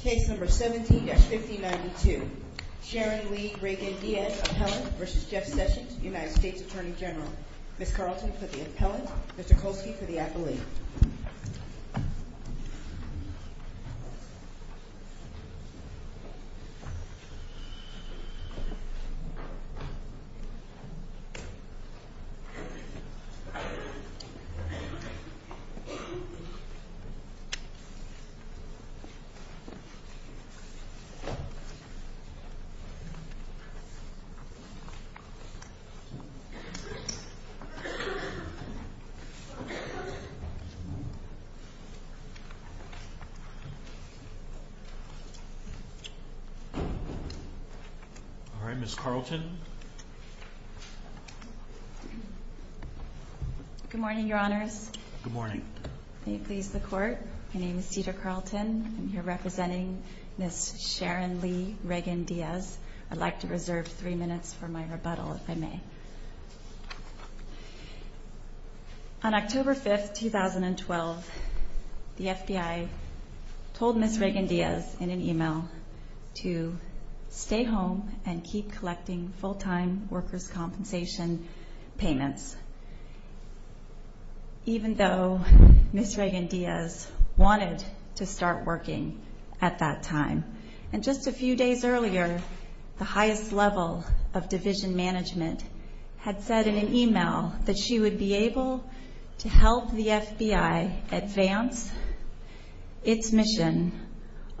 Case number 17-5092. Sharon Lee, Reagan-Diaz, Appellant v. Jeff Sessions, United States Attorney General. Ms. Carlton for the Appellant, Mr. Kolsky for the Appellee. All right, Ms. Carlton. Good morning, Your Honors. Good morning. May it please the Court, my name is Cedar Carlton. I'm here representing Ms. Sharon Lee, Reagan-Diaz. I'd like to reserve three minutes for my rebuttal, if I may. On October 5, 2012, the FBI told Ms. Reagan-Diaz in an email to stay home and keep collecting full-time workers' compensation payments, even though Ms. Reagan-Diaz wanted to start working at that time. And just a few days earlier, the highest level of division management had said in an email that she would be able to help the FBI advance its mission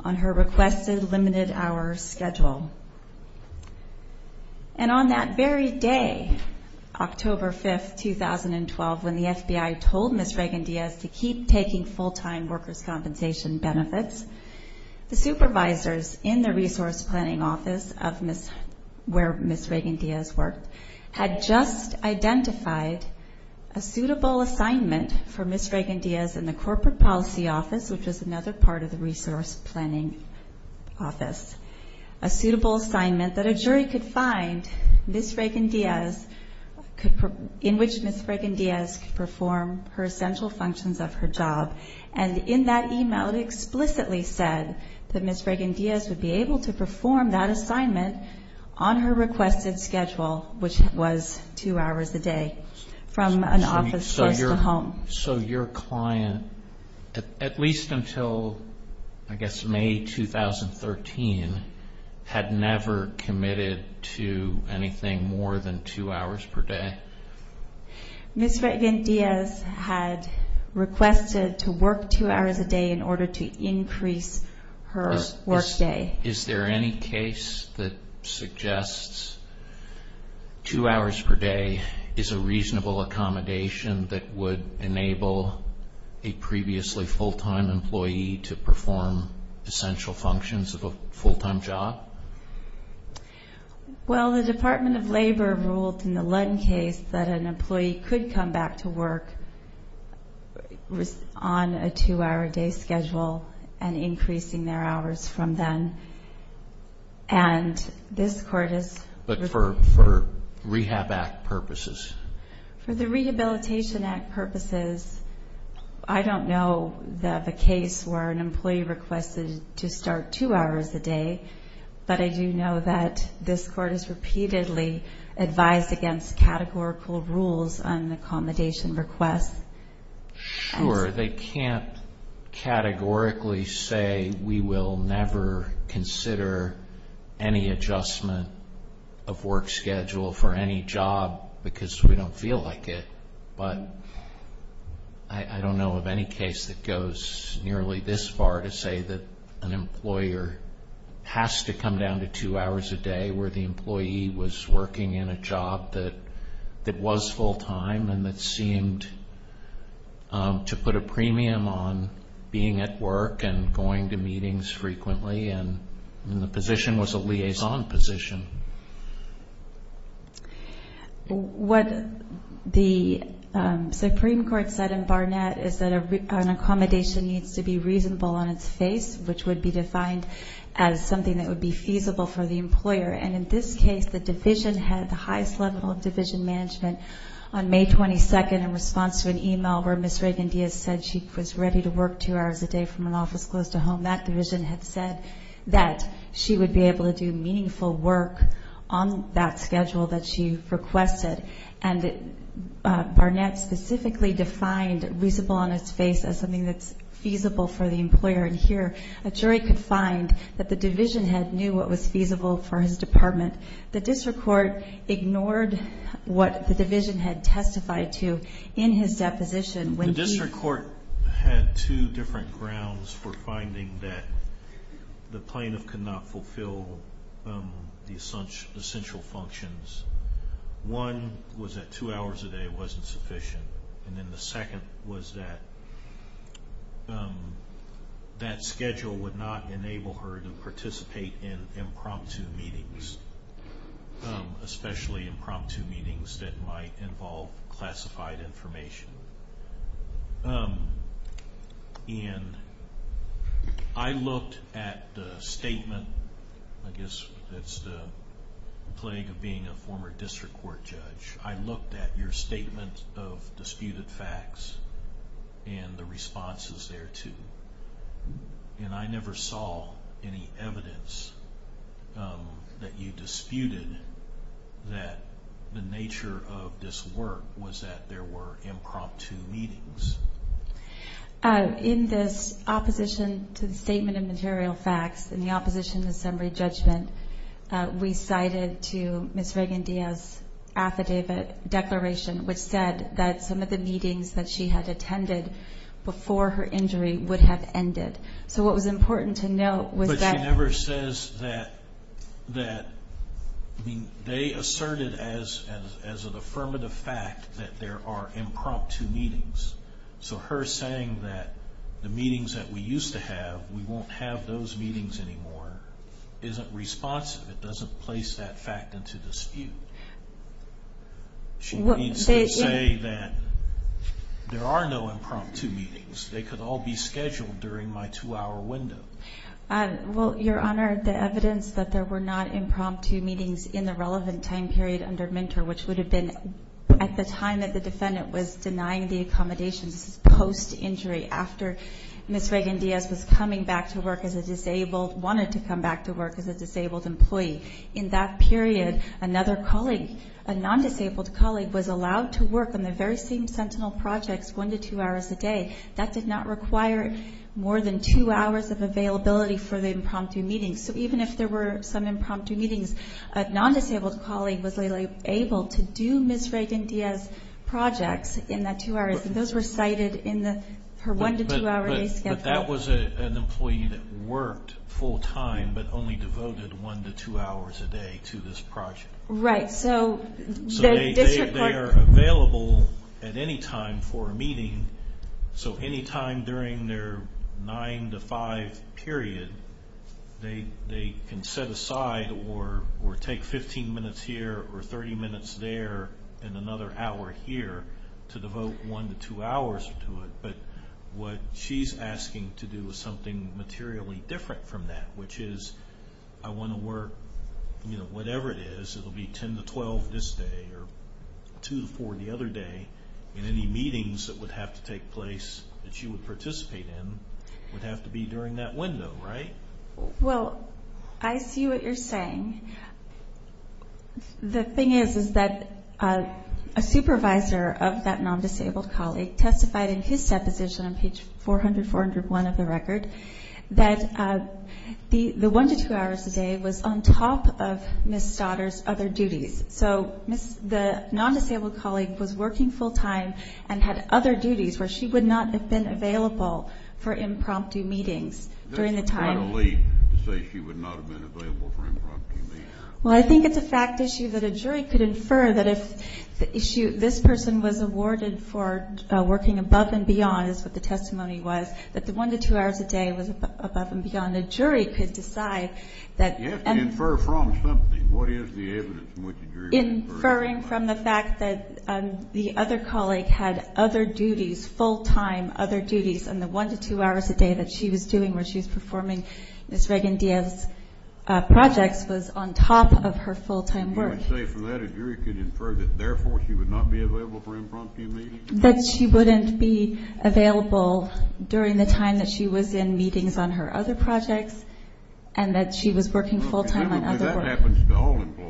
on her requested limited-hour schedule. And on that very day, October 5, 2012, when the FBI told Ms. Reagan-Diaz to keep taking full-time workers' compensation benefits, the supervisors in the Resource Planning Office where Ms. Reagan-Diaz worked had just identified a suitable assignment for Ms. Reagan-Diaz in the Corporate Policy Office, which is another part of the Resource Planning Office. A suitable assignment that a jury could find in which Ms. Reagan-Diaz could perform her essential functions of her job. And in that email, it explicitly said that Ms. Reagan-Diaz would be able to perform that assignment on her requested schedule, which was two hours a day from an office close to home. So your client, at least until I guess May 2013, had never committed to anything more than two hours per day? Ms. Reagan-Diaz had requested to work two hours a day in order to increase her workday. Is there any case that suggests two hours per day is a reasonable accommodation that would enable a previously full-time employee to perform essential functions of a full-time job? Well, the Department of Labor ruled in the Lund case that an employee could come back to work on a two-hour day schedule and increasing their hours from then. But for Rehab Act purposes? For the Rehabilitation Act purposes, I don't know of a case where an employee requested to start two hours a day, but I do know that this Court has repeatedly advised against categorical rules on accommodation requests. Sure, they can't categorically say we will never consider any adjustment of work schedule for any job because we don't feel like it. But I don't know of any case that goes nearly this far to say that an employer has to come down to two hours a day where the employee was working in a job that was full-time and that seemed to put a premium on being at work and going to meetings frequently and the position was a liaison position. What the Supreme Court said in Barnett is that an accommodation needs to be reasonable on its face, which would be defined as something that would be feasible for the employer. And in this case, the division had the highest level of division management. On May 22, in response to an email where Ms. Reagan-Diaz said she was ready to work two hours a day from an office close to home, that division had said that she would be able to do meaningful work on that schedule that she requested. And Barnett specifically defined reasonable on its face as something that's feasible for the employer. And here, a jury could find that the division head knew what was feasible for his department. The district court ignored what the division head testified to in his deposition. The district court had two different grounds for finding that the plaintiff could not fulfill the essential functions. One was that two hours a day wasn't sufficient. And then the second was that that schedule would not enable her to participate in impromptu meetings, especially impromptu meetings that might involve classified information. And I looked at the statement, I guess that's the plague of being a former district court judge. I looked at your statement of disputed facts and the responses thereto. And I never saw any evidence that you disputed that the nature of this work was that there were impromptu meetings. In this opposition to the statement of material facts, in the opposition to summary judgment, we cited to Ms. Reagan-Diaz's affidavit declaration, which said that some of the meetings that she had attended before her injury would have ended. So what was important to note was that – But she never says that – I mean, they asserted as an affirmative fact that there are impromptu meetings. So her saying that the meetings that we used to have, we won't have those meetings anymore, isn't responsive. It doesn't place that fact into dispute. She needs to say that there are no impromptu meetings. They could all be scheduled during my two-hour window. Well, Your Honor, the evidence that there were not impromptu meetings in the relevant time period under MNTER, which would have been at the time that the defendant was denying the accommodations, this is post-injury, after Ms. Reagan-Diaz was coming back to work as a disabled – wanted to come back to work as a disabled employee. In that period, another colleague, a non-disabled colleague, was allowed to work on the very same Sentinel projects one to two hours a day. That did not require more than two hours of availability for the impromptu meetings. So even if there were some impromptu meetings, a non-disabled colleague was able to do Ms. Reagan-Diaz's projects in that two hours, and those were cited in her one-to-two-hour day schedule. But that was an employee that worked full-time but only devoted one to two hours a day to this project. Right. So the District Court – So they are available at any time for a meeting. So any time during their nine-to-five period, they can set aside or take 15 minutes here or 30 minutes there and another hour here to devote one to two hours to it. But what she's asking to do is something materially different from that, which is, I want to work – whatever it is, it will be 10 to 12 this day or two to four the other day, and any meetings that would have to take place that she would participate in would have to be during that window, right? Well, I see what you're saying. The thing is that a supervisor of that non-disabled colleague testified in his deposition on page 400-401 of the record that the one-to-two hours a day was on top of Ms. Stoddard's other duties. So the non-disabled colleague was working full-time and had other duties where she would not have been available for impromptu meetings during the time. That's quite a leap to say she would not have been available for impromptu meetings. Well, I think it's a fact issue that a jury could infer that if this person was awarded for working above and beyond, is what the testimony was, that the one-to-two hours a day was above and beyond, a jury could decide that. You have to infer from something. What is the evidence from which the jury would infer that? Inferring from the fact that the other colleague had other duties, full-time other duties, and the one-to-two hours a day that she was doing, where she was performing Ms. Reagan-Diaz's projects, was on top of her full-time work. So you would say from that, a jury could infer that, therefore, she would not be available for impromptu meetings? That she wouldn't be available during the time that she was in meetings on her other projects and that she was working full-time on other work. Remember, that happens to all employees.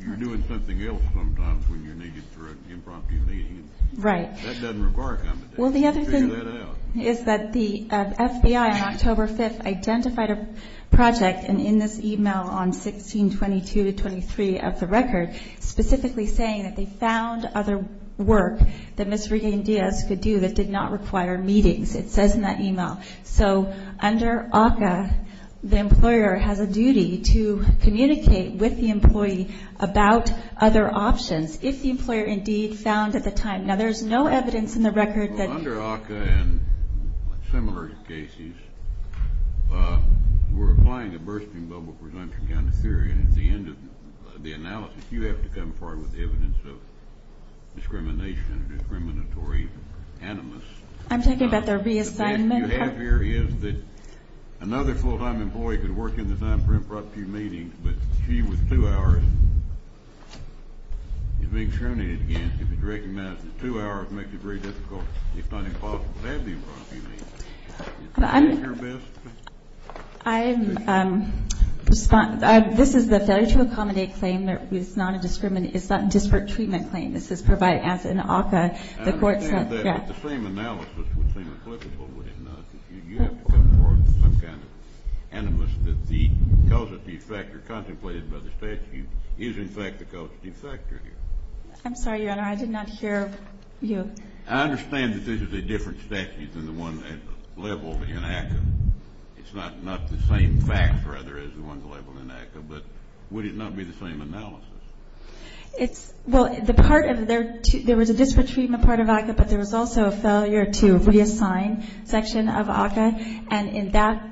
You're doing something else sometimes when you're needed for an impromptu meeting. Right. That doesn't require compensation. Well, the other thing is that the FBI on October 5th identified a project, and in this e-mail on 1622-23 of the record, specifically saying that they found other work that Ms. Reagan-Diaz could do that did not require meetings. It says in that e-mail. So under ACCA, the employer has a duty to communicate with the employee about other options if the employer indeed found at the time. Now, there's no evidence in the record that you – and at the end of the analysis, you have to come forward with evidence of discrimination or discriminatory animus. I'm talking about their reassignment. The fact that you have here is that another full-time employee could work in the time for impromptu meetings, but she was two hours. If it's recognized that two hours makes it very difficult, if not impossible, to have the impromptu meetings. Is that your best? This is the failure to accommodate claim. It's not a disparate treatment claim. This is provided as an ACCA. I understand that, but the same analysis would seem applicable, would it not? You have to come forward with some kind of animus that the causative factor contemplated by the statute is in fact the causative factor here. I'm sorry, Your Honor. I did not hear you. I understand that this is a different statute than the one labeled in ACCA. It's not the same fact, rather, as the one labeled in ACCA, but would it not be the same analysis? It's – well, the part of their – there was a disparate treatment part of ACCA, but there was also a failure to reassign section of ACCA, and in that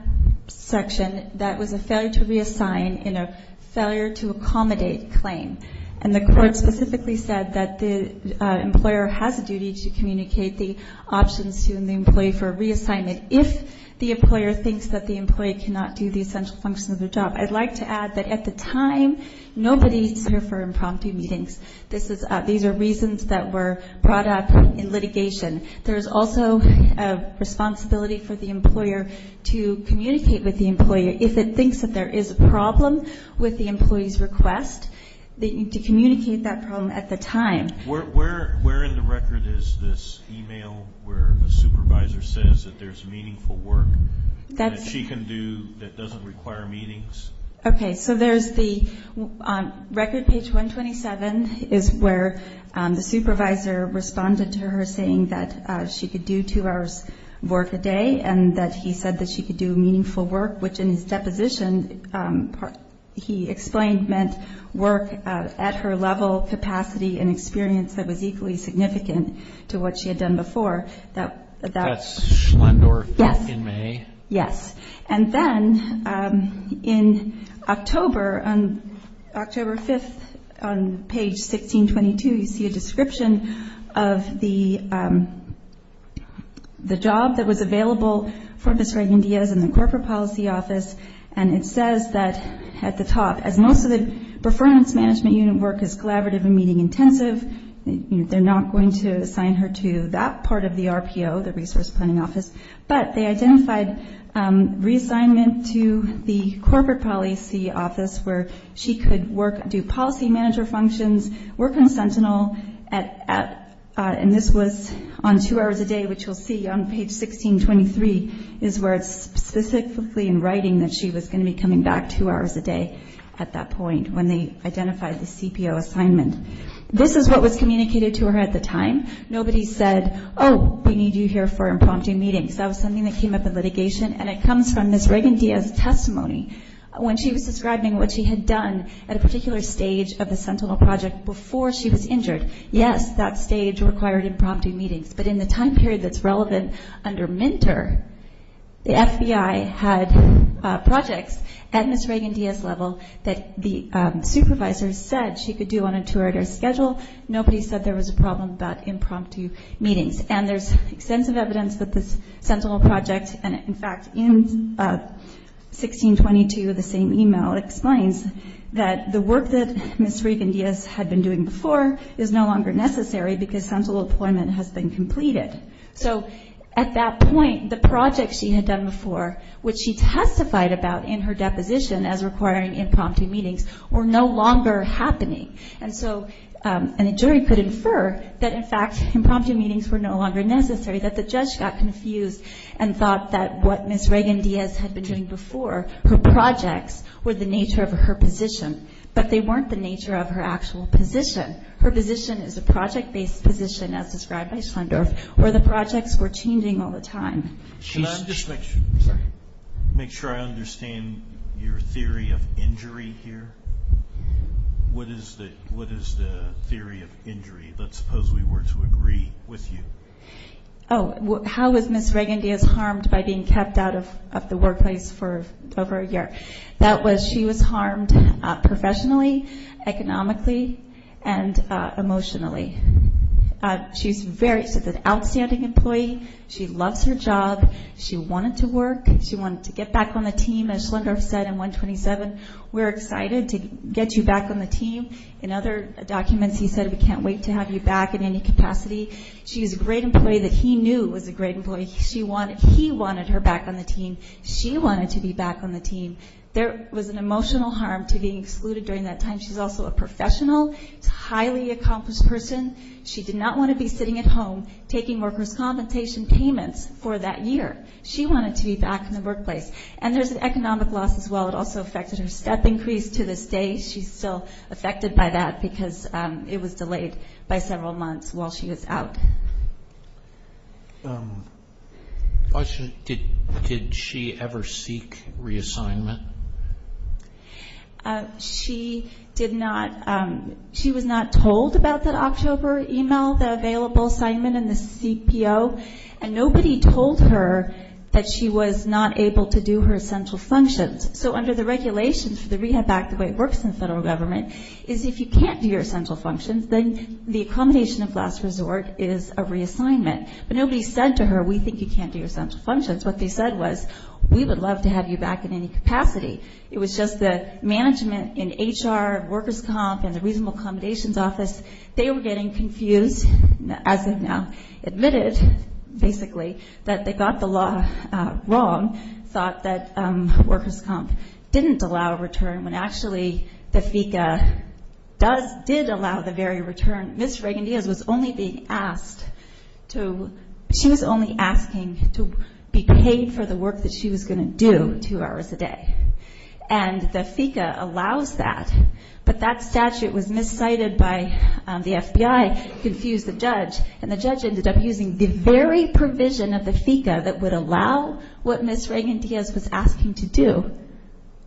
section, that was a failure to reassign in a failure to accommodate claim. And the court specifically said that the employer has a duty to communicate the options to the employee for reassignment if the employer thinks that the employee cannot do the essential functions of the job. I'd like to add that at the time, nobody is here for impromptu meetings. These are reasons that were brought up in litigation. There is also a responsibility for the employer to communicate with the employee if it thinks that there is a problem with the employee's request, to communicate that problem at the time. Where in the record is this email where a supervisor says that there's meaningful work that she can do that doesn't require meetings? Okay. So there's the – record page 127 is where the supervisor responded to her saying that she could do two hours' work a day and that he said that she could do meaningful work, which in his deposition he explained meant work at her level, capacity, and experience that was equally significant to what she had done before. That's Schlendorf in May? Yes. And then in October, on October 5th, on page 1622, you see a description of the job that was available for Ms. Reagan-Diaz in the Corporate Policy Office, and it says that at the top, as most of the performance management unit work is collaborative and meeting intensive, they're not going to assign her to that part of the RPO, the Resource Planning Office, but they identified reassignment to the Corporate Policy Office where she could work, do policy manager functions, work on Sentinel, and this was on two hours a day, which you'll see on page 1623 is where it's specifically in writing that she was going to be coming back two hours a day at that point when they identified the CPO assignment. This is what was communicated to her at the time. Nobody said, oh, we need you here for impromptu meetings. That was something that came up in litigation, and it comes from Ms. Reagan-Diaz's testimony when she was describing what she had done at a particular stage of the Sentinel project before she was injured. Yes, that stage required impromptu meetings, but in the time period that's relevant under MNTER, the FBI had projects at Ms. Reagan-Diaz's level that the supervisor said she could do on a two-hour day schedule. Nobody said there was a problem about impromptu meetings, and there's extensive evidence that the Sentinel project, and in fact, in 1622, the same email explains that the work that Ms. Reagan-Diaz had been doing before is no longer necessary because Sentinel deployment has been completed. So at that point, the projects she had done before, which she testified about in her deposition as requiring impromptu meetings, were no longer happening. And so a jury could infer that, in fact, impromptu meetings were no longer necessary, that the judge got confused and thought that what Ms. Reagan-Diaz had been doing before, her projects, were the nature of her position. But they weren't the nature of her actual position. Her position is a project-based position, as described by Schlendorf, where the projects were changing all the time. Can I just make sure I understand your theory of injury here? What is the theory of injury? Let's suppose we were to agree with you. Oh, how was Ms. Reagan-Diaz harmed by being kept out of the workplace for over a year? She was harmed professionally, economically, and emotionally. She's an outstanding employee. She loves her job. She wanted to work. She wanted to get back on the team. As Schlendorf said in 127, we're excited to get you back on the team. In other documents, he said, we can't wait to have you back in any capacity. She was a great employee that he knew was a great employee. He wanted her back on the team. She wanted to be back on the team. There was an emotional harm to being excluded during that time. She's also a professional. She's a highly accomplished person. She did not want to be sitting at home taking workers' compensation payments for that year. She wanted to be back in the workplace. And there's an economic loss as well. It also affected her step increase to this day. She's still affected by that because it was delayed by several months while she was out. Did she ever seek reassignment? She did not. She was not told about that October email, the available assignment and the CPO. And nobody told her that she was not able to do her essential functions. So under the regulations for the Rehab Act, the way it works in the federal government, is if you can't do your essential functions, then the accommodation of last resort is a reassignment. But nobody said to her, we think you can't do your essential functions. What they said was, we would love to have you back in any capacity. It was just the management in HR, workers' comp, and the reasonable accommodations office, they were getting confused, as they've now admitted, basically, that they got the law wrong, thought that workers' comp didn't allow a return, when actually the FECA did allow the very return. Ms. Reagan-Diaz was only being asked to be paid for the work that she was going to do two hours a day. And the FECA allows that. But that statute was miscited by the FBI, confused the judge, and the judge ended up using the very provision of the FECA that would allow what Ms. Reagan-Diaz was asking to do,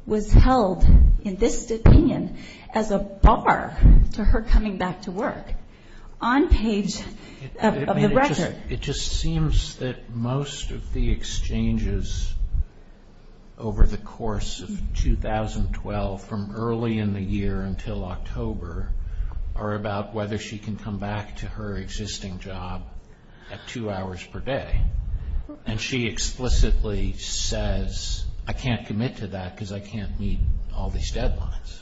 was held, in this opinion, as a bar to her coming back to work, on page of the record. It just seems that most of the exchanges over the course of 2012, from early in the year until October, are about whether she can come back to her existing job at two hours per day. And she explicitly says, I can't commit to that because I can't meet all these deadlines.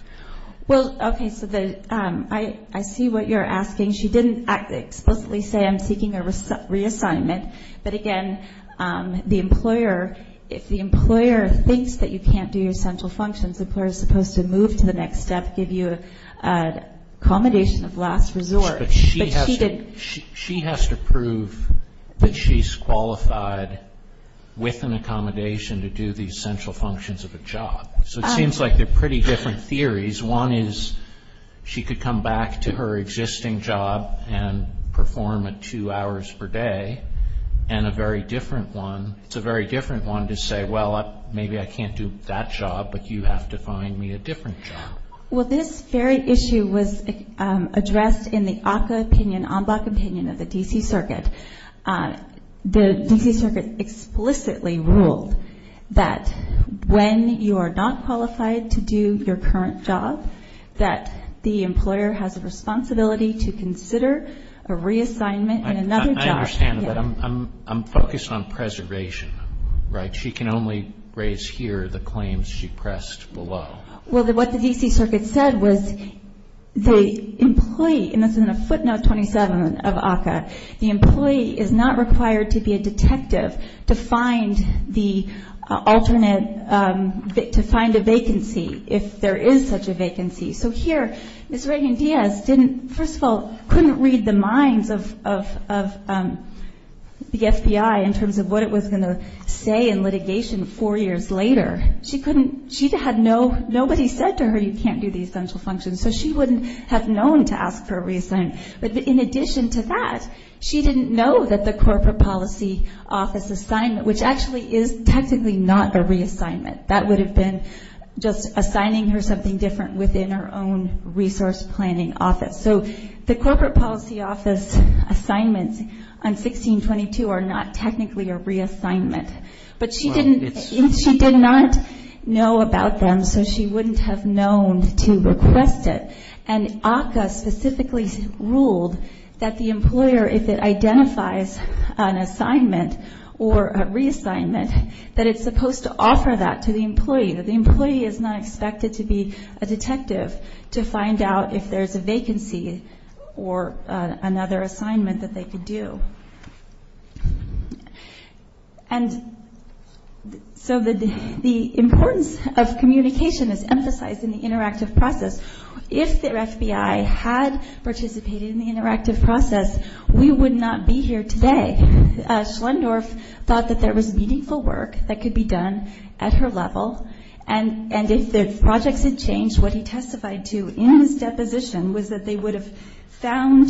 Well, okay, so I see what you're asking. She didn't explicitly say, I'm seeking a reassignment. But, again, the employer, if the employer thinks that you can't do your central functions, the employer is supposed to move to the next step, give you accommodation of last resort. But she has to prove that she's qualified with an accommodation to do the essential functions of a job. So it seems like they're pretty different theories. One is she could come back to her existing job and perform at two hours per day. And a very different one, it's a very different one to say, well, maybe I can't do that job, but you have to find me a different job. Well, this very issue was addressed in the ACCA opinion, ENBAC opinion of the D.C. Circuit. The D.C. Circuit explicitly ruled that when you are not qualified to do your current job, that the employer has a responsibility to consider a reassignment in another job. I understand, but I'm focused on preservation, right? She can only raise here the claims she pressed below. Well, what the D.C. Circuit said was the employee, and this is in a footnote 27 of ACCA, the employee is not required to be a detective to find the alternate, to find a vacancy if there is such a vacancy. So here Ms. Reagan-Diaz didn't, first of all, couldn't read the minds of the FBI in terms of what it was going to say in litigation four years later. She couldn't, she had no, nobody said to her you can't do the essential functions, so she wouldn't have known to ask for a reassignment. But in addition to that, she didn't know that the corporate policy office assignment, which actually is technically not a reassignment, that would have been just assigning her something different within her own resource planning office. So the corporate policy office assignments on 1622 are not technically a reassignment. But she didn't, she did not know about them, so she wouldn't have known to request it. And ACCA specifically ruled that the employer, if it identifies an assignment or a reassignment, that it's supposed to offer that to the employee, that the employee is not expected to be a detective to find out if there's a vacancy or another assignment that they could do. And so the importance of communication is emphasized in the interactive process. If the FBI had participated in the interactive process, we would not be here today. Schlendorf thought that there was meaningful work that could be done at her level, and if the projects had changed, what he testified to in his deposition was that they would have found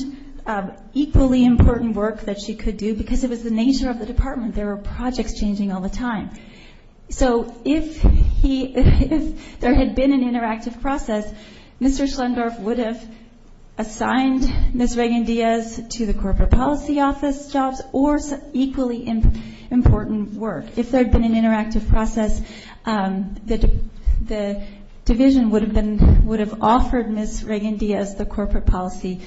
equally important work that she could do because it was the nature of the department. There were projects changing all the time. So if there had been an interactive process, Mr. Schlendorf would have assigned Ms. Reagan-Diaz to the corporate policy office jobs or equally important work. If there had been an interactive process, the division would have offered Ms. Reagan-Diaz the corporate policy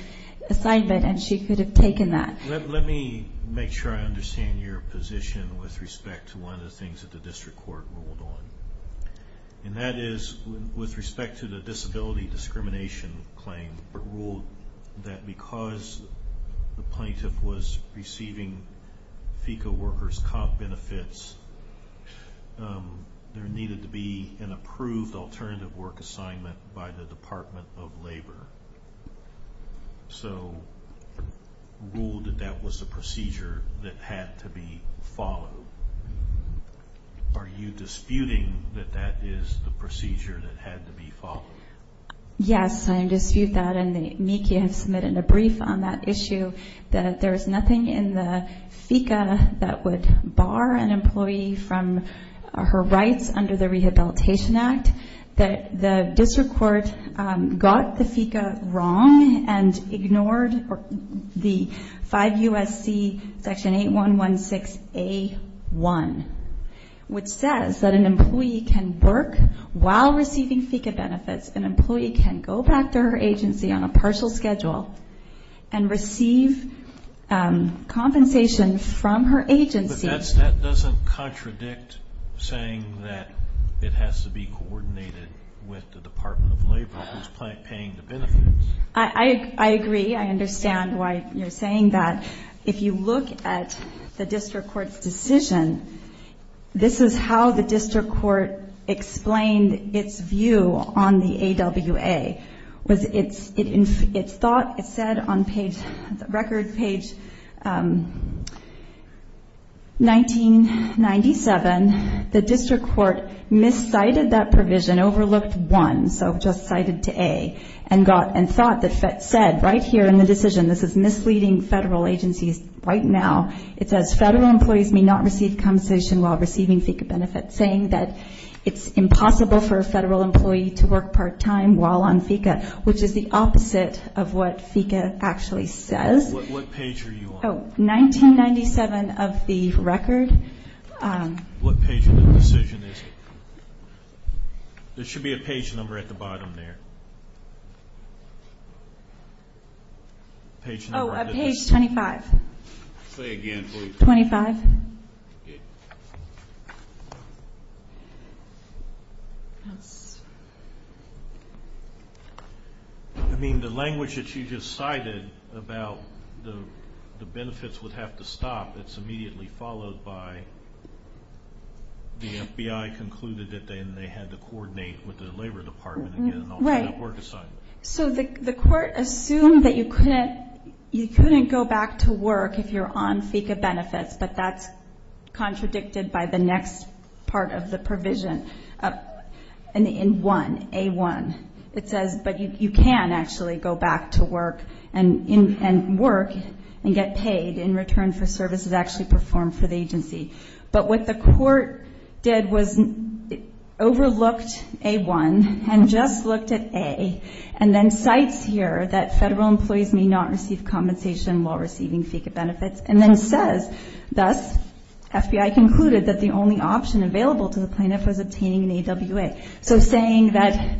assignment, and she could have taken that. Let me make sure I understand your position with respect to one of the things that the district court ruled on. And that is, with respect to the disability discrimination claim, the district court ruled that because the plaintiff was receiving FECA workers' comp benefits, there needed to be an approved alternative work assignment by the Department of Labor. So it ruled that that was a procedure that had to be followed. Are you disputing that that is the procedure that had to be followed? Yes, I dispute that, and Miki has submitted a brief on that issue, that there is nothing in the FECA that would bar an employee from her rights under the Rehabilitation Act. The district court got the FECA wrong and ignored the 5 U.S.C. section 8116A1, which says that an employee can work while receiving FECA benefits. An employee can go back to her agency on a partial schedule and receive compensation from her agency. But that doesn't contradict saying that it has to be coordinated with the Department of Labor, who's paying the benefits. I agree. I understand why you're saying that. If you look at the district court's decision, this is how the district court explained its view on the AWA. It said on record page 1997, the district court miscited that provision, overlooked 1, so just cited to A, and thought that said right here in the decision, this is misleading federal agencies right now. It says federal employees may not receive compensation while receiving FECA benefits, saying that it's impossible for a federal employee to work part-time while on FECA, which is the opposite of what FECA actually says. What page are you on? Oh, 1997 of the record. What page in the decision is it? There should be a page number at the bottom there. Oh, page 25. Say again, please. 25. I mean, the language that you just cited about the benefits would have to stop, it's immediately followed by the FBI concluded that they had to coordinate with the Labor Department and get an alternate work assignment. So the court assumed that you couldn't go back to work if you're on FECA benefits, but that's contradicted by the next part of the provision in 1, A1. But you can actually go back to work and work and get paid in return for services actually performed for the agency. But what the court did was overlooked A1 and just looked at A, and then cites here that federal employees may not receive compensation while receiving FECA benefits, and then says, thus, FBI concluded that the only option available to the plaintiff was obtaining an AWA. So saying that,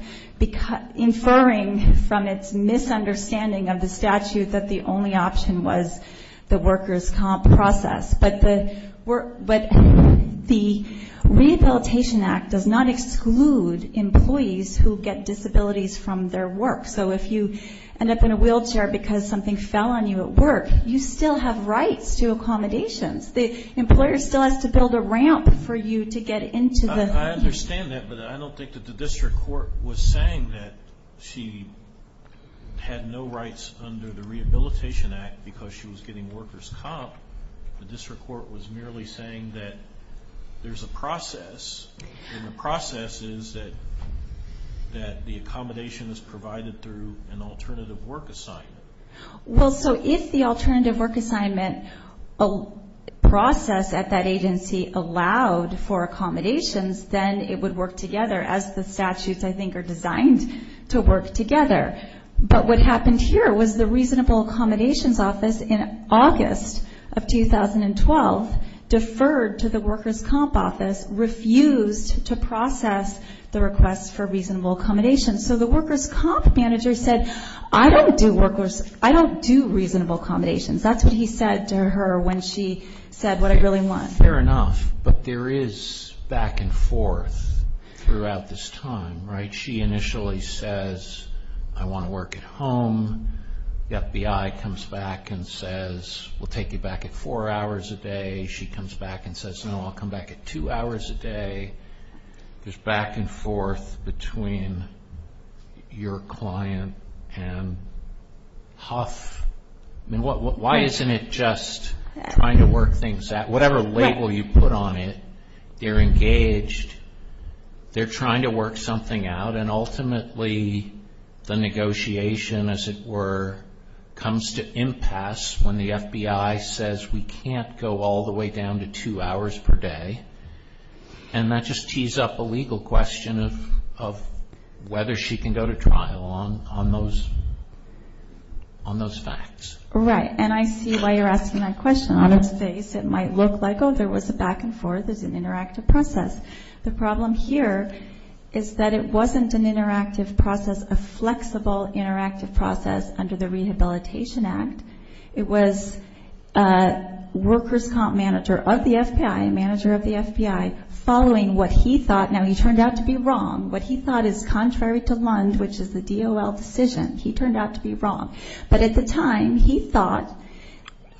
inferring from its misunderstanding of the statute, that the only option was the workers' comp process. But the Rehabilitation Act does not exclude employees who get disabilities from their work. So if you end up in a wheelchair because something fell on you at work, you still have rights to accommodations. The employer still has to build a ramp for you to get into the wheelchair. I understand that, but I don't think that the district court was saying that she had no rights under the Rehabilitation Act because she was getting workers' comp. The district court was merely saying that there's a process, and the process is that the accommodation is provided through an alternative work assignment. Well, so if the alternative work assignment process at that agency allowed for accommodations, then it would work together, as the statutes, I think, are designed to work together. But what happened here was the Reasonable Accommodations Office in August of 2012 deferred to the Workers' Comp Office, refused to process the request for reasonable accommodations. So the workers' comp manager said, I don't do reasonable accommodations. That's what he said to her when she said what I really want. Fair enough. But there is back and forth throughout this time, right? She initially says, I want to work at home. The FBI comes back and says, we'll take you back at four hours a day. She comes back and says, no, I'll come back at two hours a day. There's back and forth between your client and HUF. I mean, why isn't it just trying to work things out? Whatever label you put on it, they're engaged, they're trying to work something out, and ultimately the negotiation, as it were, comes to impasse when the FBI says we can't go all the way down to two hours per day. And that just tees up a legal question of whether she can go to trial on those facts. Right. And I see why you're asking that question. On its face it might look like, oh, there was a back and forth, there's an interactive process. The problem here is that it wasn't an interactive process, a flexible interactive process under the Rehabilitation Act. It was a workers' comp manager of the FBI, manager of the FBI, following what he thought. Now, he turned out to be wrong. What he thought is contrary to Lund, which is the DOL decision. He turned out to be wrong. But at the time he thought,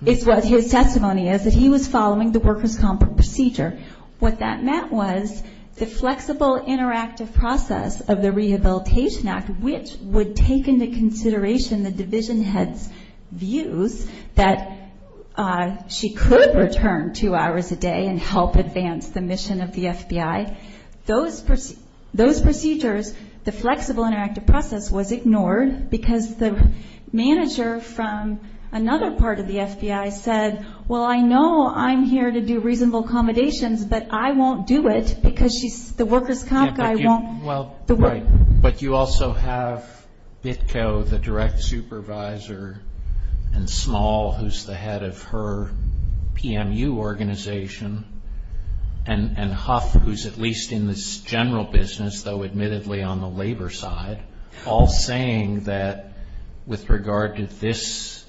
is what his testimony is, that he was following the workers' comp procedure. What that meant was the flexible interactive process of the Rehabilitation Act, which would take into consideration the division head's views that she could return two hours a day and help advance the mission of the FBI. Those procedures, the flexible interactive process was ignored because the manager from another part of the FBI said, well, I know I'm here to do reasonable accommodations, but I won't do it because the workers' comp guy won't. But you also have BITCO, the direct supervisor, and Small, who's the head of her PMU organization, and Huff, who's at least in this general business, though admittedly on the labor side, all saying that with regard to this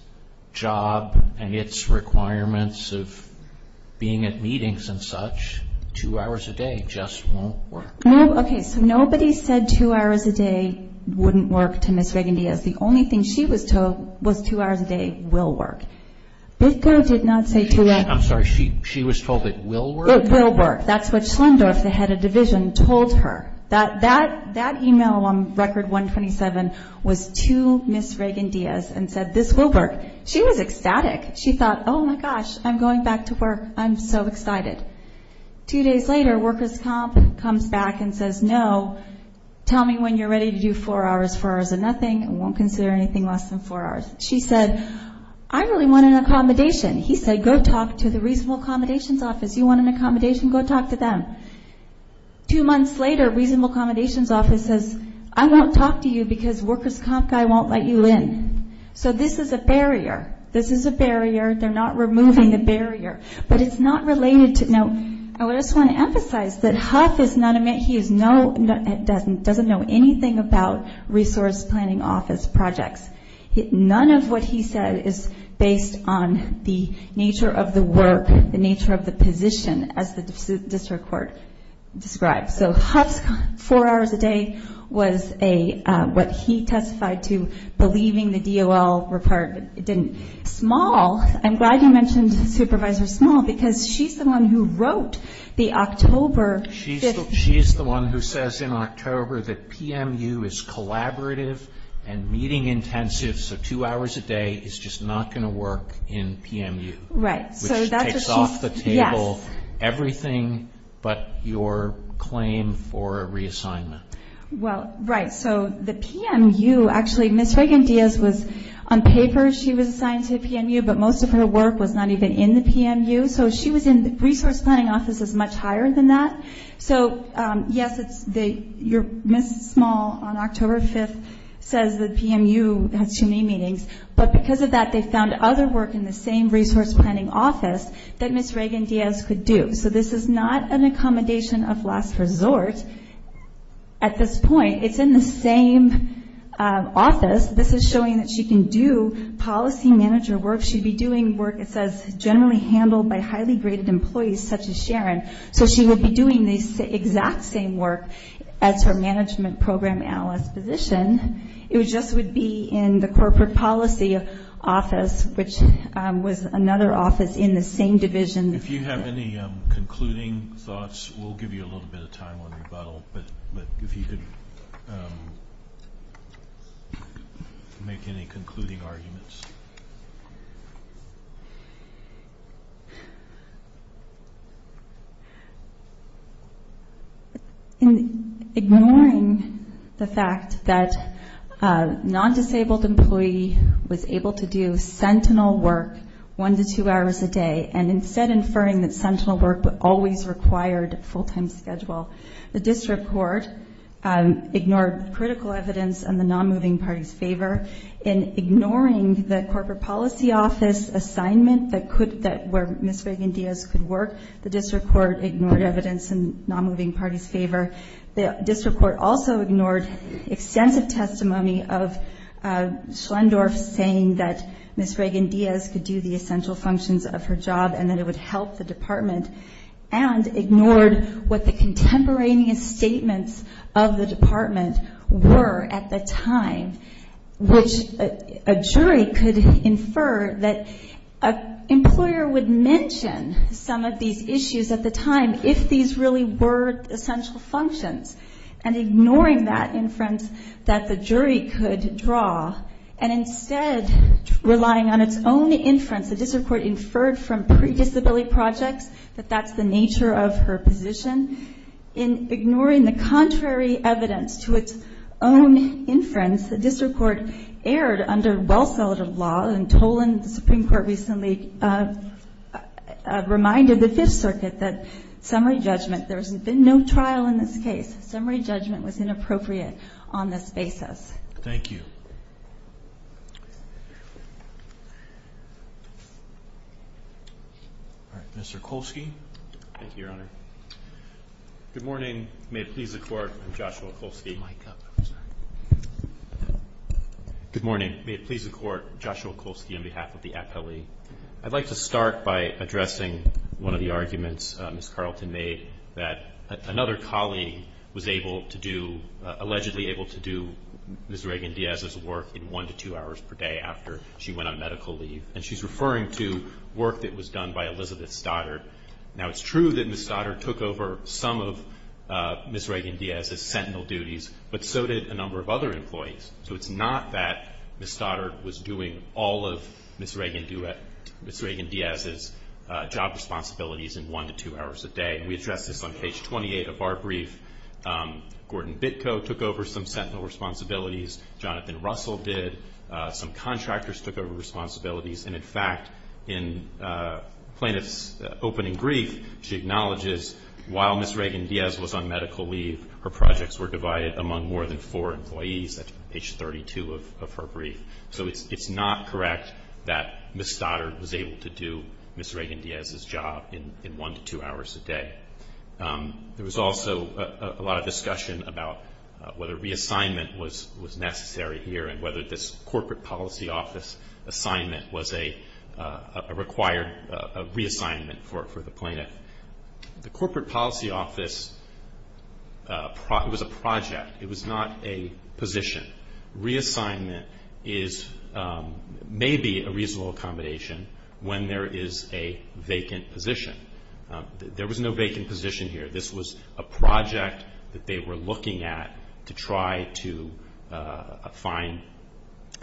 job and its requirements of being at meetings and such, two hours a day just won't work. Okay, so nobody said two hours a day wouldn't work to Ms. Reagan-Diaz. The only thing she was told was two hours a day will work. BITCO did not say two hours. I'm sorry. She was told it will work? It will work. That's what Schlendorf, the head of division, told her. That email on Record 127 was to Ms. Reagan-Diaz and said, this will work. She was ecstatic. She thought, oh, my gosh, I'm going back to work. I'm so excited. Two days later, workers' comp comes back and says, no, tell me when you're ready to do four hours. Four hours is nothing. We won't consider anything less than four hours. She said, I really want an accommodation. He said, go talk to the reasonable accommodations office. You want an accommodation? Go talk to them. Two months later, reasonable accommodations office says, I won't talk to you because workers' comp guy won't let you in. So this is a barrier. This is a barrier. They're not removing the barrier. I just want to emphasize that Huff doesn't know anything about resource planning office projects. None of what he said is based on the nature of the work, the nature of the position, as the district court described. So Huff's four hours a day was what he testified to, believing the DOL report didn't. Small, I'm glad you mentioned Supervisor Small because she's the one who wrote the October. She's the one who says in October that PMU is collaborative and meeting intensive, so two hours a day is just not going to work in PMU. Right. Which takes off the table everything but your claim for a reassignment. Well, right. So the PMU, actually, Ms. Reagan-Diaz was on paper she was assigned to PMU, but most of her work was not even in the PMU. So she was in resource planning offices much higher than that. So, yes, Ms. Small on October 5th says that PMU has too many meetings, but because of that they found other work in the same resource planning office that Ms. Reagan-Diaz could do. So this is not an accommodation of last resort at this point. It's in the same office. This is showing that she can do policy manager work. She'd be doing work, it says, generally handled by highly graded employees such as Sharon. So she would be doing the exact same work as her management program analyst position. It just would be in the corporate policy office, which was another office in the same division. If you have any concluding thoughts, we'll give you a little bit of time on rebuttal. But if you could make any concluding arguments. In ignoring the fact that a non-disabled employee was able to do sentinel work one to two hours a day and instead inferring that sentinel work always required a full-time schedule, the district court ignored critical evidence in the non-moving party's favor. In ignoring the corporate policy office assignment where Ms. Reagan-Diaz could work, the district court ignored evidence in the non-moving party's favor. The district court also ignored extensive testimony of Schlendorf saying that Ms. Reagan-Diaz could do the essential functions of her job and that it would help the department and ignored what the contemporaneous statements of the department were at the time, which a jury could infer that an employer would mention some of these issues at the time if these really were essential functions. And ignoring that inference that the jury could draw and instead relying on its own inference, the district court inferred from pre-disability projects that that's the nature of her position. In ignoring the contrary evidence to its own inference, the district court erred under well-settled law and told the Supreme Court recently, reminded the Fifth Circuit that summary judgment, there's been no trial in this case. Summary judgment was inappropriate on this basis. Thank you. Mr. Kolsky. Thank you, Your Honor. Good morning. May it please the Court. I'm Joshua Kolsky. Good morning. May it please the Court. Joshua Kolsky on behalf of the appellee. I'd like to start by addressing one of the arguments Ms. Carlton made, that another colleague was able to do, allegedly able to do Ms. Reagan-Diaz's work in one to two hours per day after she went on medical leave. And she's referring to work that was done by Elizabeth Stoddard. Now, it's true that Ms. Stoddard took over some of Ms. Reagan-Diaz's sentinel duties, but so did a number of other employees. So it's not that Ms. Stoddard was doing all of Ms. Reagan-Diaz's job responsibilities in one to two hours a day. We addressed this on page 28 of our brief. Gordon Bitko took over some sentinel responsibilities. Jonathan Russell did. Some contractors took over responsibilities. And, in fact, in plaintiff's opening brief, she acknowledges while Ms. Reagan-Diaz was on medical leave, her projects were divided among more than four employees at page 32 of her brief. So it's not correct that Ms. Stoddard was able to do Ms. Reagan-Diaz's job in one to two hours a day. There was also a lot of discussion about whether reassignment was necessary here and whether this corporate policy office assignment was a required reassignment for the plaintiff. The corporate policy office was a project. It was not a position. Reassignment may be a reasonable accommodation when there is a vacant position. There was no vacant position here. This was a project that they were looking at to try to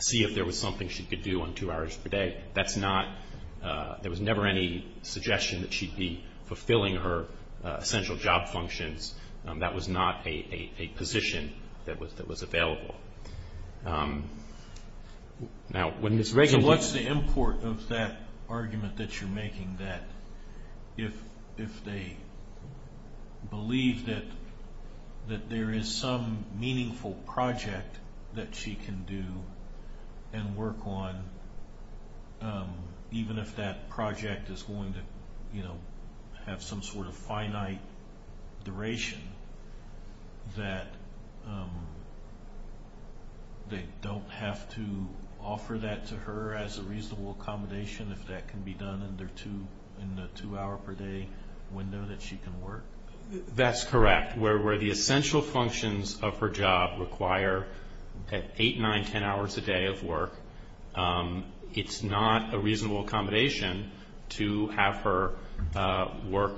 see if there was something she could do on two hours per day. That's not-there was never any suggestion that she'd be fulfilling her essential job functions. That was not a position that was available. Now, when Ms. Reagan- even if that project is going to have some sort of finite duration, that they don't have to offer that to her as a reasonable accommodation if that can be done in the two-hour-per-day window that she can work? That's correct. Where the essential functions of her job require eight, nine, ten hours a day of work, it's not a reasonable accommodation to have her work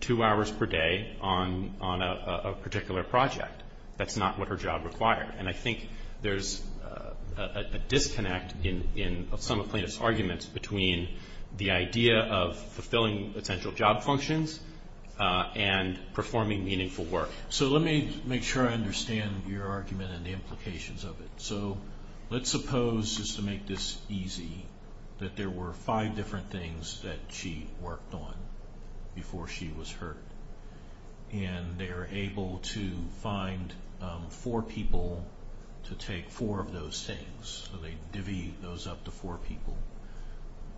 two hours per day on a particular project. That's not what her job required. And I think there's a disconnect in some of the plaintiff's arguments between the idea of fulfilling essential job functions and performing meaningful work. So let me make sure I understand your argument and the implications of it. So let's suppose, just to make this easy, that there were five different things that she worked on before she was hurt. And they were able to find four people to take four of those things. So they divvied those up to four people.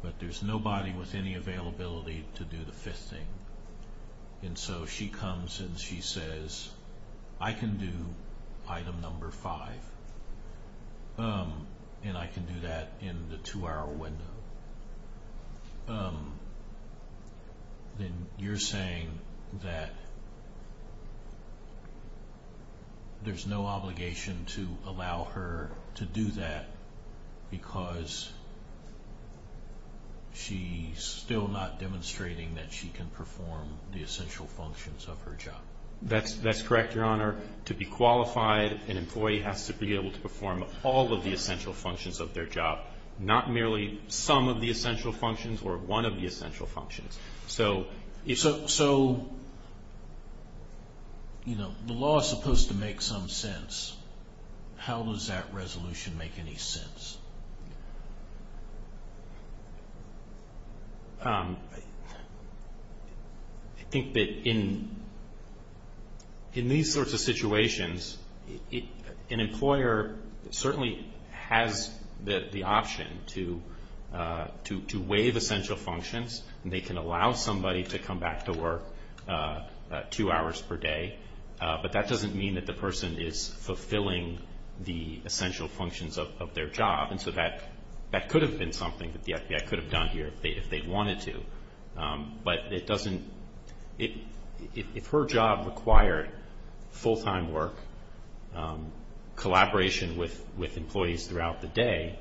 But there's nobody with any availability to do the fifth thing. And so she comes and she says, I can do item number five. And I can do that in the two-hour window. Then you're saying that there's no obligation to allow her to do that because she's still not demonstrating that she can perform the essential functions of her job. That's correct, Your Honor. To be qualified, an employee has to be able to perform all of the essential functions of their job, not merely some of the essential functions or one of the essential functions. So the law is supposed to make some sense. How does that resolution make any sense? I think that in these sorts of situations, an employer certainly has the option to waive essential functions. They can allow somebody to come back to work two hours per day. But that doesn't mean that the person is fulfilling the essential functions of their job. And so that could have been something that the FBI could have done here if they wanted to. But if her job required full-time work, collaboration with employees throughout the day,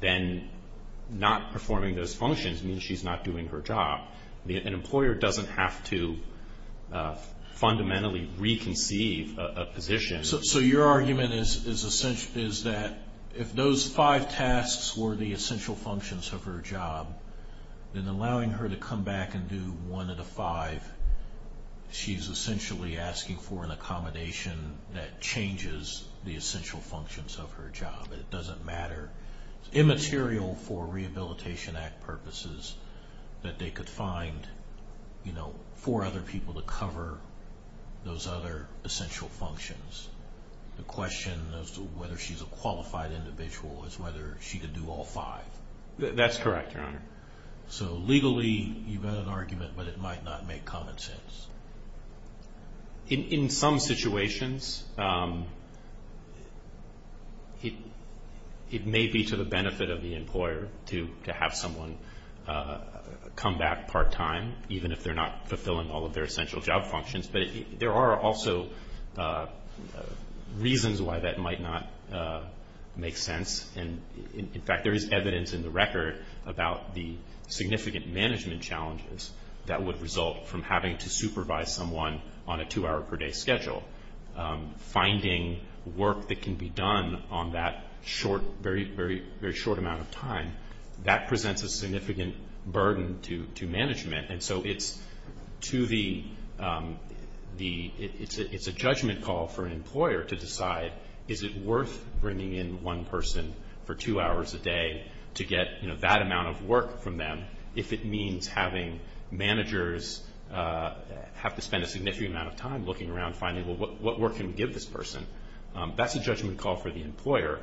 then not performing those functions means she's not doing her job. An employer doesn't have to fundamentally reconceive a position. So your argument is that if those five tasks were the essential functions of her job, then allowing her to come back and do one of the five, she's essentially asking for an accommodation that changes the essential functions of her job. It doesn't matter. It's immaterial for Rehabilitation Act purposes that they could find four other people to cover those other essential functions. The question as to whether she's a qualified individual is whether she could do all five. That's correct, Your Honor. So legally, you've got an argument, but it might not make common sense. In some situations, it may be to the benefit of the employer to have someone come back part-time, even if they're not fulfilling all of their essential job functions. But there are also reasons why that might not make sense. In fact, there is evidence in the record about the significant management challenges that would result from having to supervise someone on a two-hour-per-day schedule. Finding work that can be done on that very short amount of time, that presents a significant burden to management. And so it's a judgment call for an employer to decide, is it worth bringing in one person for two hours a day to get that amount of work from them, if it means having managers have to spend a significant amount of time looking around, finding, well, what work can we give this person? That's a judgment call for the employer.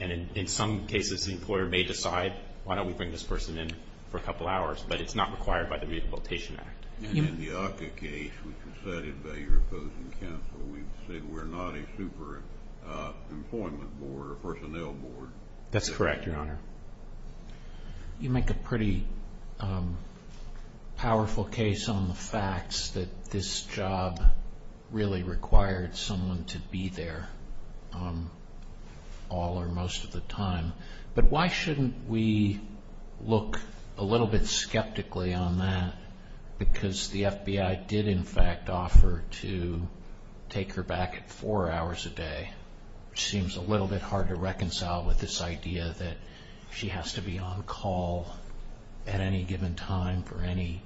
And in some cases, the employer may decide, why don't we bring this person in for a couple hours? But it's not required by the Rehabilitation Act. And in the ACCA case, which was cited by your opposing counsel, we've said we're not a super-employment board or personnel board. That's correct, Your Honor. You make a pretty powerful case on the facts, that this job really required someone to be there all or most of the time. But why shouldn't we look a little bit skeptically on that? Because the FBI did, in fact, offer to take her back at four hours a day, which seems a little bit hard to reconcile with this idea that she has to be on call at any given time for any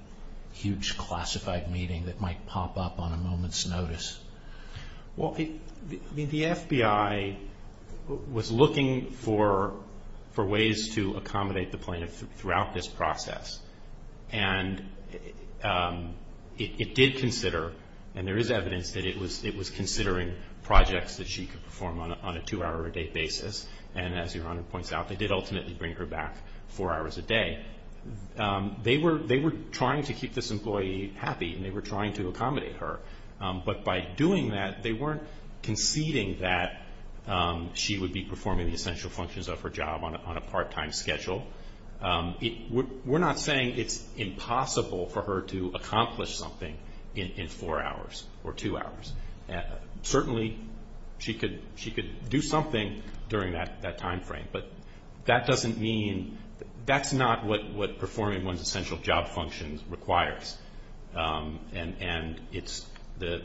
huge classified meeting that might pop up on a moment's notice. Well, I mean, the FBI was looking for ways to accommodate the plaintiff throughout this process. And it did consider, and there is evidence that it was considering projects that she could perform on a two-hour-a-day basis. And as Your Honor points out, they did ultimately bring her back four hours a day. They were trying to keep this employee happy, and they were trying to accommodate her. But by doing that, they weren't conceding that she would be performing the essential functions of her job on a part-time schedule. We're not saying it's impossible for her to accomplish something in four hours or two hours. Certainly, she could do something during that time frame, but that doesn't mean that's not what performing one's essential job functions requires. And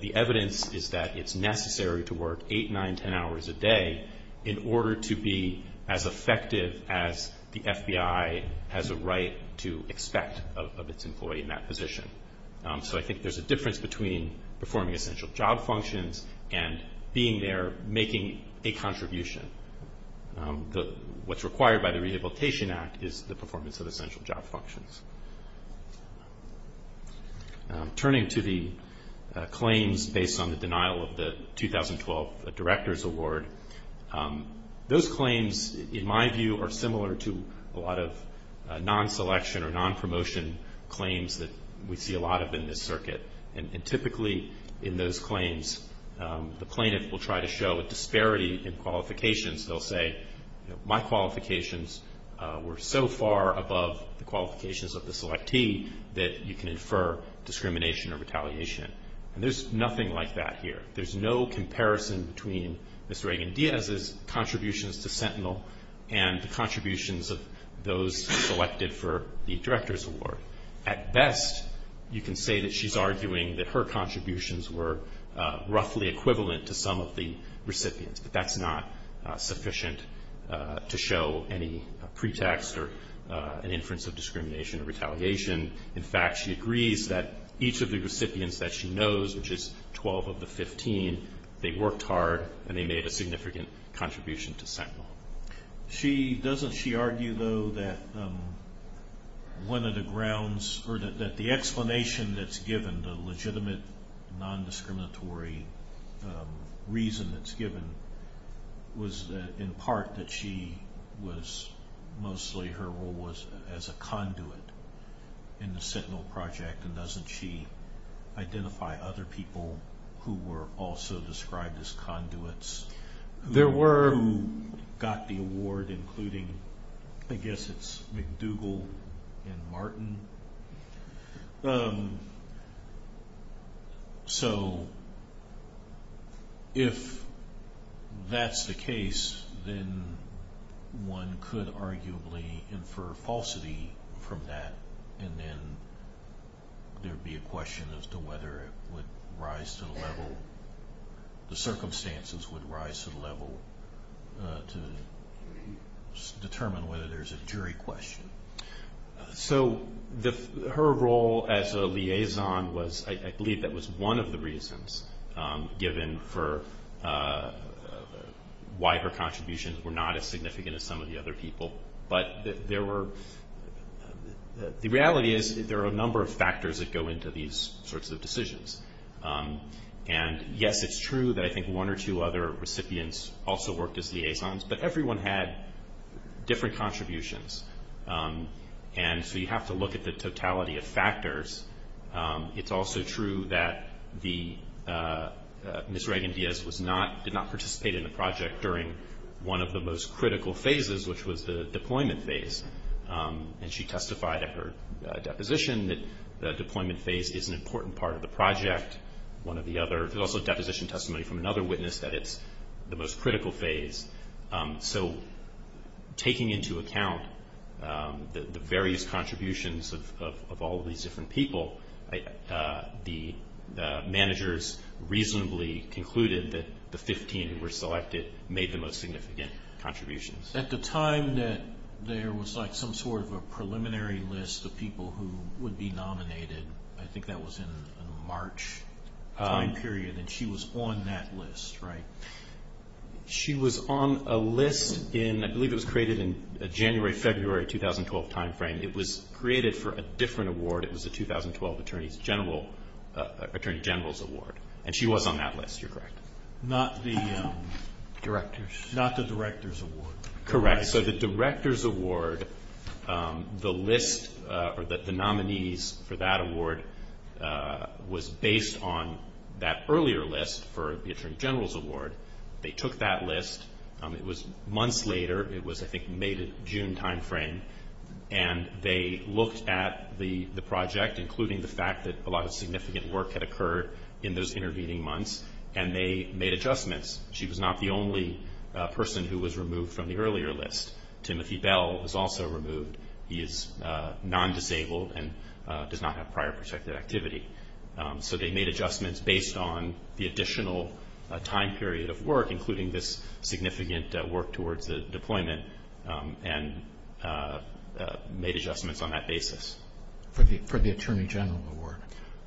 the evidence is that it's necessary to work eight, nine, ten hours a day in order to be as effective as the FBI has a right to expect of its employee in that position. So I think there's a difference between performing essential job functions and being there making a contribution. What's required by the Rehabilitation Act is the performance of essential job functions. Turning to the claims based on the denial of the 2012 Director's Award, those claims, in my view, are similar to a lot of non-selection or non-promotion claims that we see a lot of in this circuit. And typically, in those claims, the plaintiff will try to show a disparity in qualifications. They'll say, my qualifications were so far above the qualifications of the selectee that you can infer discrimination or retaliation. And there's nothing like that here. There's no comparison between Ms. Reagan-Diaz's contributions to Sentinel and the contributions of those selected for the Director's Award. At best, you can say that she's arguing that her contributions were roughly equivalent to some of the recipients. But that's not sufficient to show any pretext or an inference of discrimination or retaliation. In fact, she agrees that each of the recipients that she knows, which is 12 of the 15, they worked hard and they made a significant contribution to Sentinel. She, doesn't she argue, though, that one of the grounds, or that the explanation that's given, the legitimate, non-discriminatory reason that's given, was in part that she was mostly, her role was as a conduit in the Sentinel project. And doesn't she identify other people who were also described as conduits? There were who got the award, including, I guess it's McDougall and Martin. So, if that's the case, then one could arguably infer falsity from that. And then there'd be a question as to whether it would rise to the level, the circumstances would rise to the level to determine whether there's a jury question. So, her role as a liaison was, I believe that was one of the reasons, given for why her contributions were not as significant as some of the other people. But there were, the reality is there are a number of factors that go into these sorts of decisions. And yes, it's true that I think one or two other recipients also worked as liaisons, but everyone had different contributions. And so you have to look at the totality of factors. It's also true that Ms. Reagan-Diaz did not participate in the project during one of the most critical phases, which was the deployment phase. And she testified at her deposition that the deployment phase is an important part of the project. There's also deposition testimony from another witness that it's the most critical phase. So, taking into account the various contributions of all of these different people, the managers reasonably concluded that the 15 who were selected made the most significant contributions. At the time that there was like some sort of a preliminary list of people who would be nominated, I think that was in March time period, and she was on that list, right? She was on a list in, I believe it was created in a January, February 2012 time frame. It was created for a different award. It was a 2012 Attorney General's Award, and she was on that list. You're correct. Not the Director's? Not the Director's Award. Correct. So the Director's Award, the list, or the nominees for that award, was based on that earlier list for the Attorney General's Award. They took that list. It was months later. It was, I think, May to June time frame. And they looked at the project, including the fact that a lot of significant work had occurred in those intervening months, and they made adjustments. She was not the only person who was removed from the earlier list. Timothy Bell was also removed. He is non-disabled and does not have prior protective activity. So they made adjustments based on the additional time period of work, including this significant work towards the deployment, and made adjustments on that basis. For the Attorney General Award?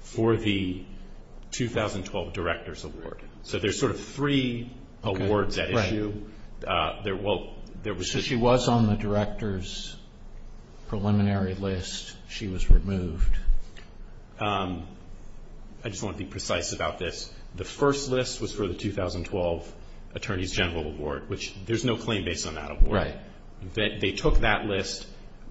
For the 2012 Director's Award. So there's sort of three awards at issue. So she was on the Director's preliminary list. She was removed. I just want to be precise about this. The first list was for the 2012 Attorney General's Award, which there's no claim based on that award. They took that list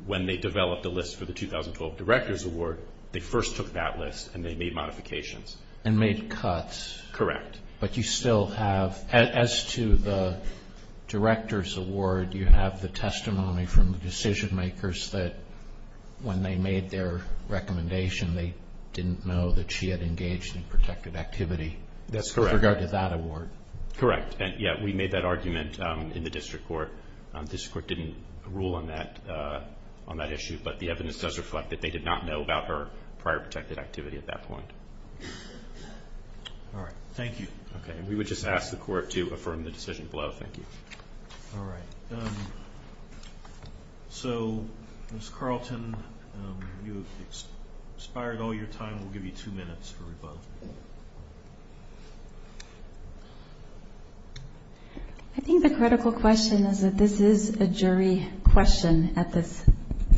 when they developed the list for the 2012 Director's Award. They first took that list, and they made modifications. And made cuts. Correct. But you still have, as to the Director's Award, you have the testimony from the decision-makers that when they made their recommendation, they didn't know that she had engaged in protective activity. That's correct. With regard to that award. Correct. And, yeah, we made that argument in the District Court. The District Court didn't rule on that issue, but the evidence does reflect that they did not know about her prior protective activity at that point. All right. Thank you. Okay. And we would just ask the Court to affirm the decision below. Thank you. All right. So, Ms. Carlton, you have expired all your time. We'll give you two minutes for rebuttal. I think the critical question is that this is a jury question at this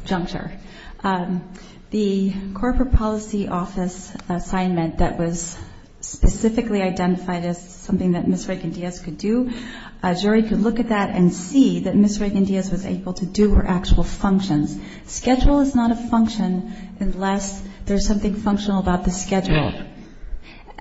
juncture. The Corporate Policy Office assignment that was specifically identified as something that Ms. Raiken-Diaz could do, a jury could look at that and see that Ms. Raiken-Diaz was able to do her actual functions. Schedule is not a function unless there's something functional about the schedule.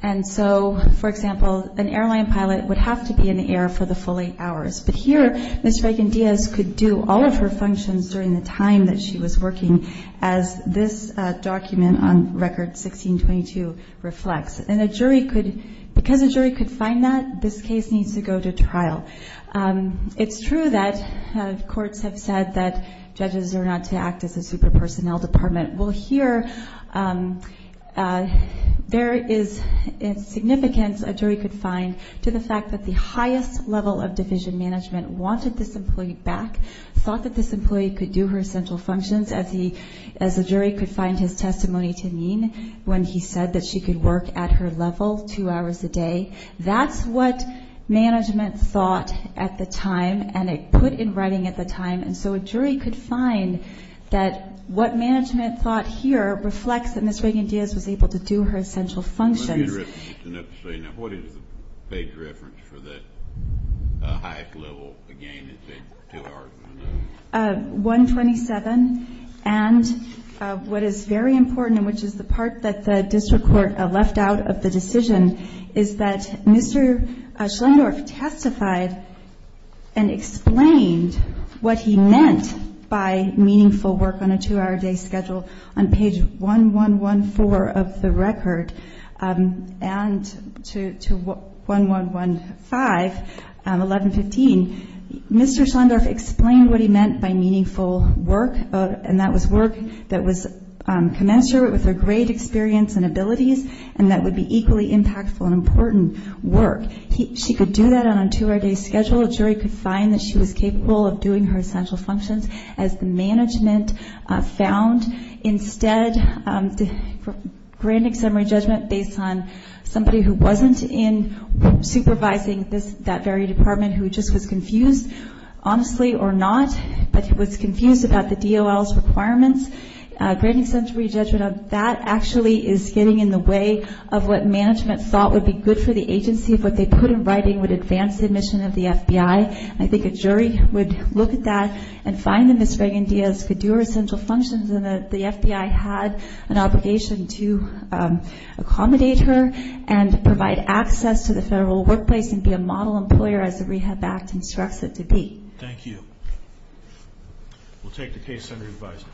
And so, for example, an airline pilot would have to be in the air for the full eight hours. But here, Ms. Raiken-Diaz could do all of her functions during the time that she was working, as this document on Record 1622 reflects. And a jury could, because a jury could find that, this case needs to go to trial. It's true that courts have said that judges are not to act as a super-personnel department. Well, here, there is significance a jury could find to the fact that the highest level of division management wanted this employee back, thought that this employee could do her central functions as a jury could find his testimony to mean when he said that she could work at her level two hours a day. That's what management thought at the time, and it put in writing at the time. And so a jury could find that what management thought here reflects that Ms. Raiken-Diaz was able to do her essential functions. Let me interrupt you just a minute to say, now, what is the page reference for the highest level, again, to the argument? 127. And what is very important, and which is the part that the district court left out of the decision, is that Mr. Schlendorf testified and explained what he meant by meaningful work on a two-hour day schedule on page 1114 of the record and to 1115, 1115. Mr. Schlendorf explained what he meant by meaningful work, and that was work that was commensurate with her great experience and abilities and that would be equally impactful and important work. She could do that on a two-hour day schedule. A jury could find that she was capable of doing her essential functions as the management found. Instead, for grand exemplary judgment based on somebody who wasn't in supervising that very department, who just was confused, honestly or not, but was confused about the DOL's requirements, grand exemplary judgment of that actually is getting in the way of what management thought would be good for the agency. What they put in writing would advance the mission of the FBI. I think a jury would look at that and find that Ms. Reagan-Diaz could do her essential functions and that the FBI had an obligation to accommodate her and provide access to the federal workplace and be a model employer as the Rehab Act instructs it to be. Thank you. We'll take the case under advisory.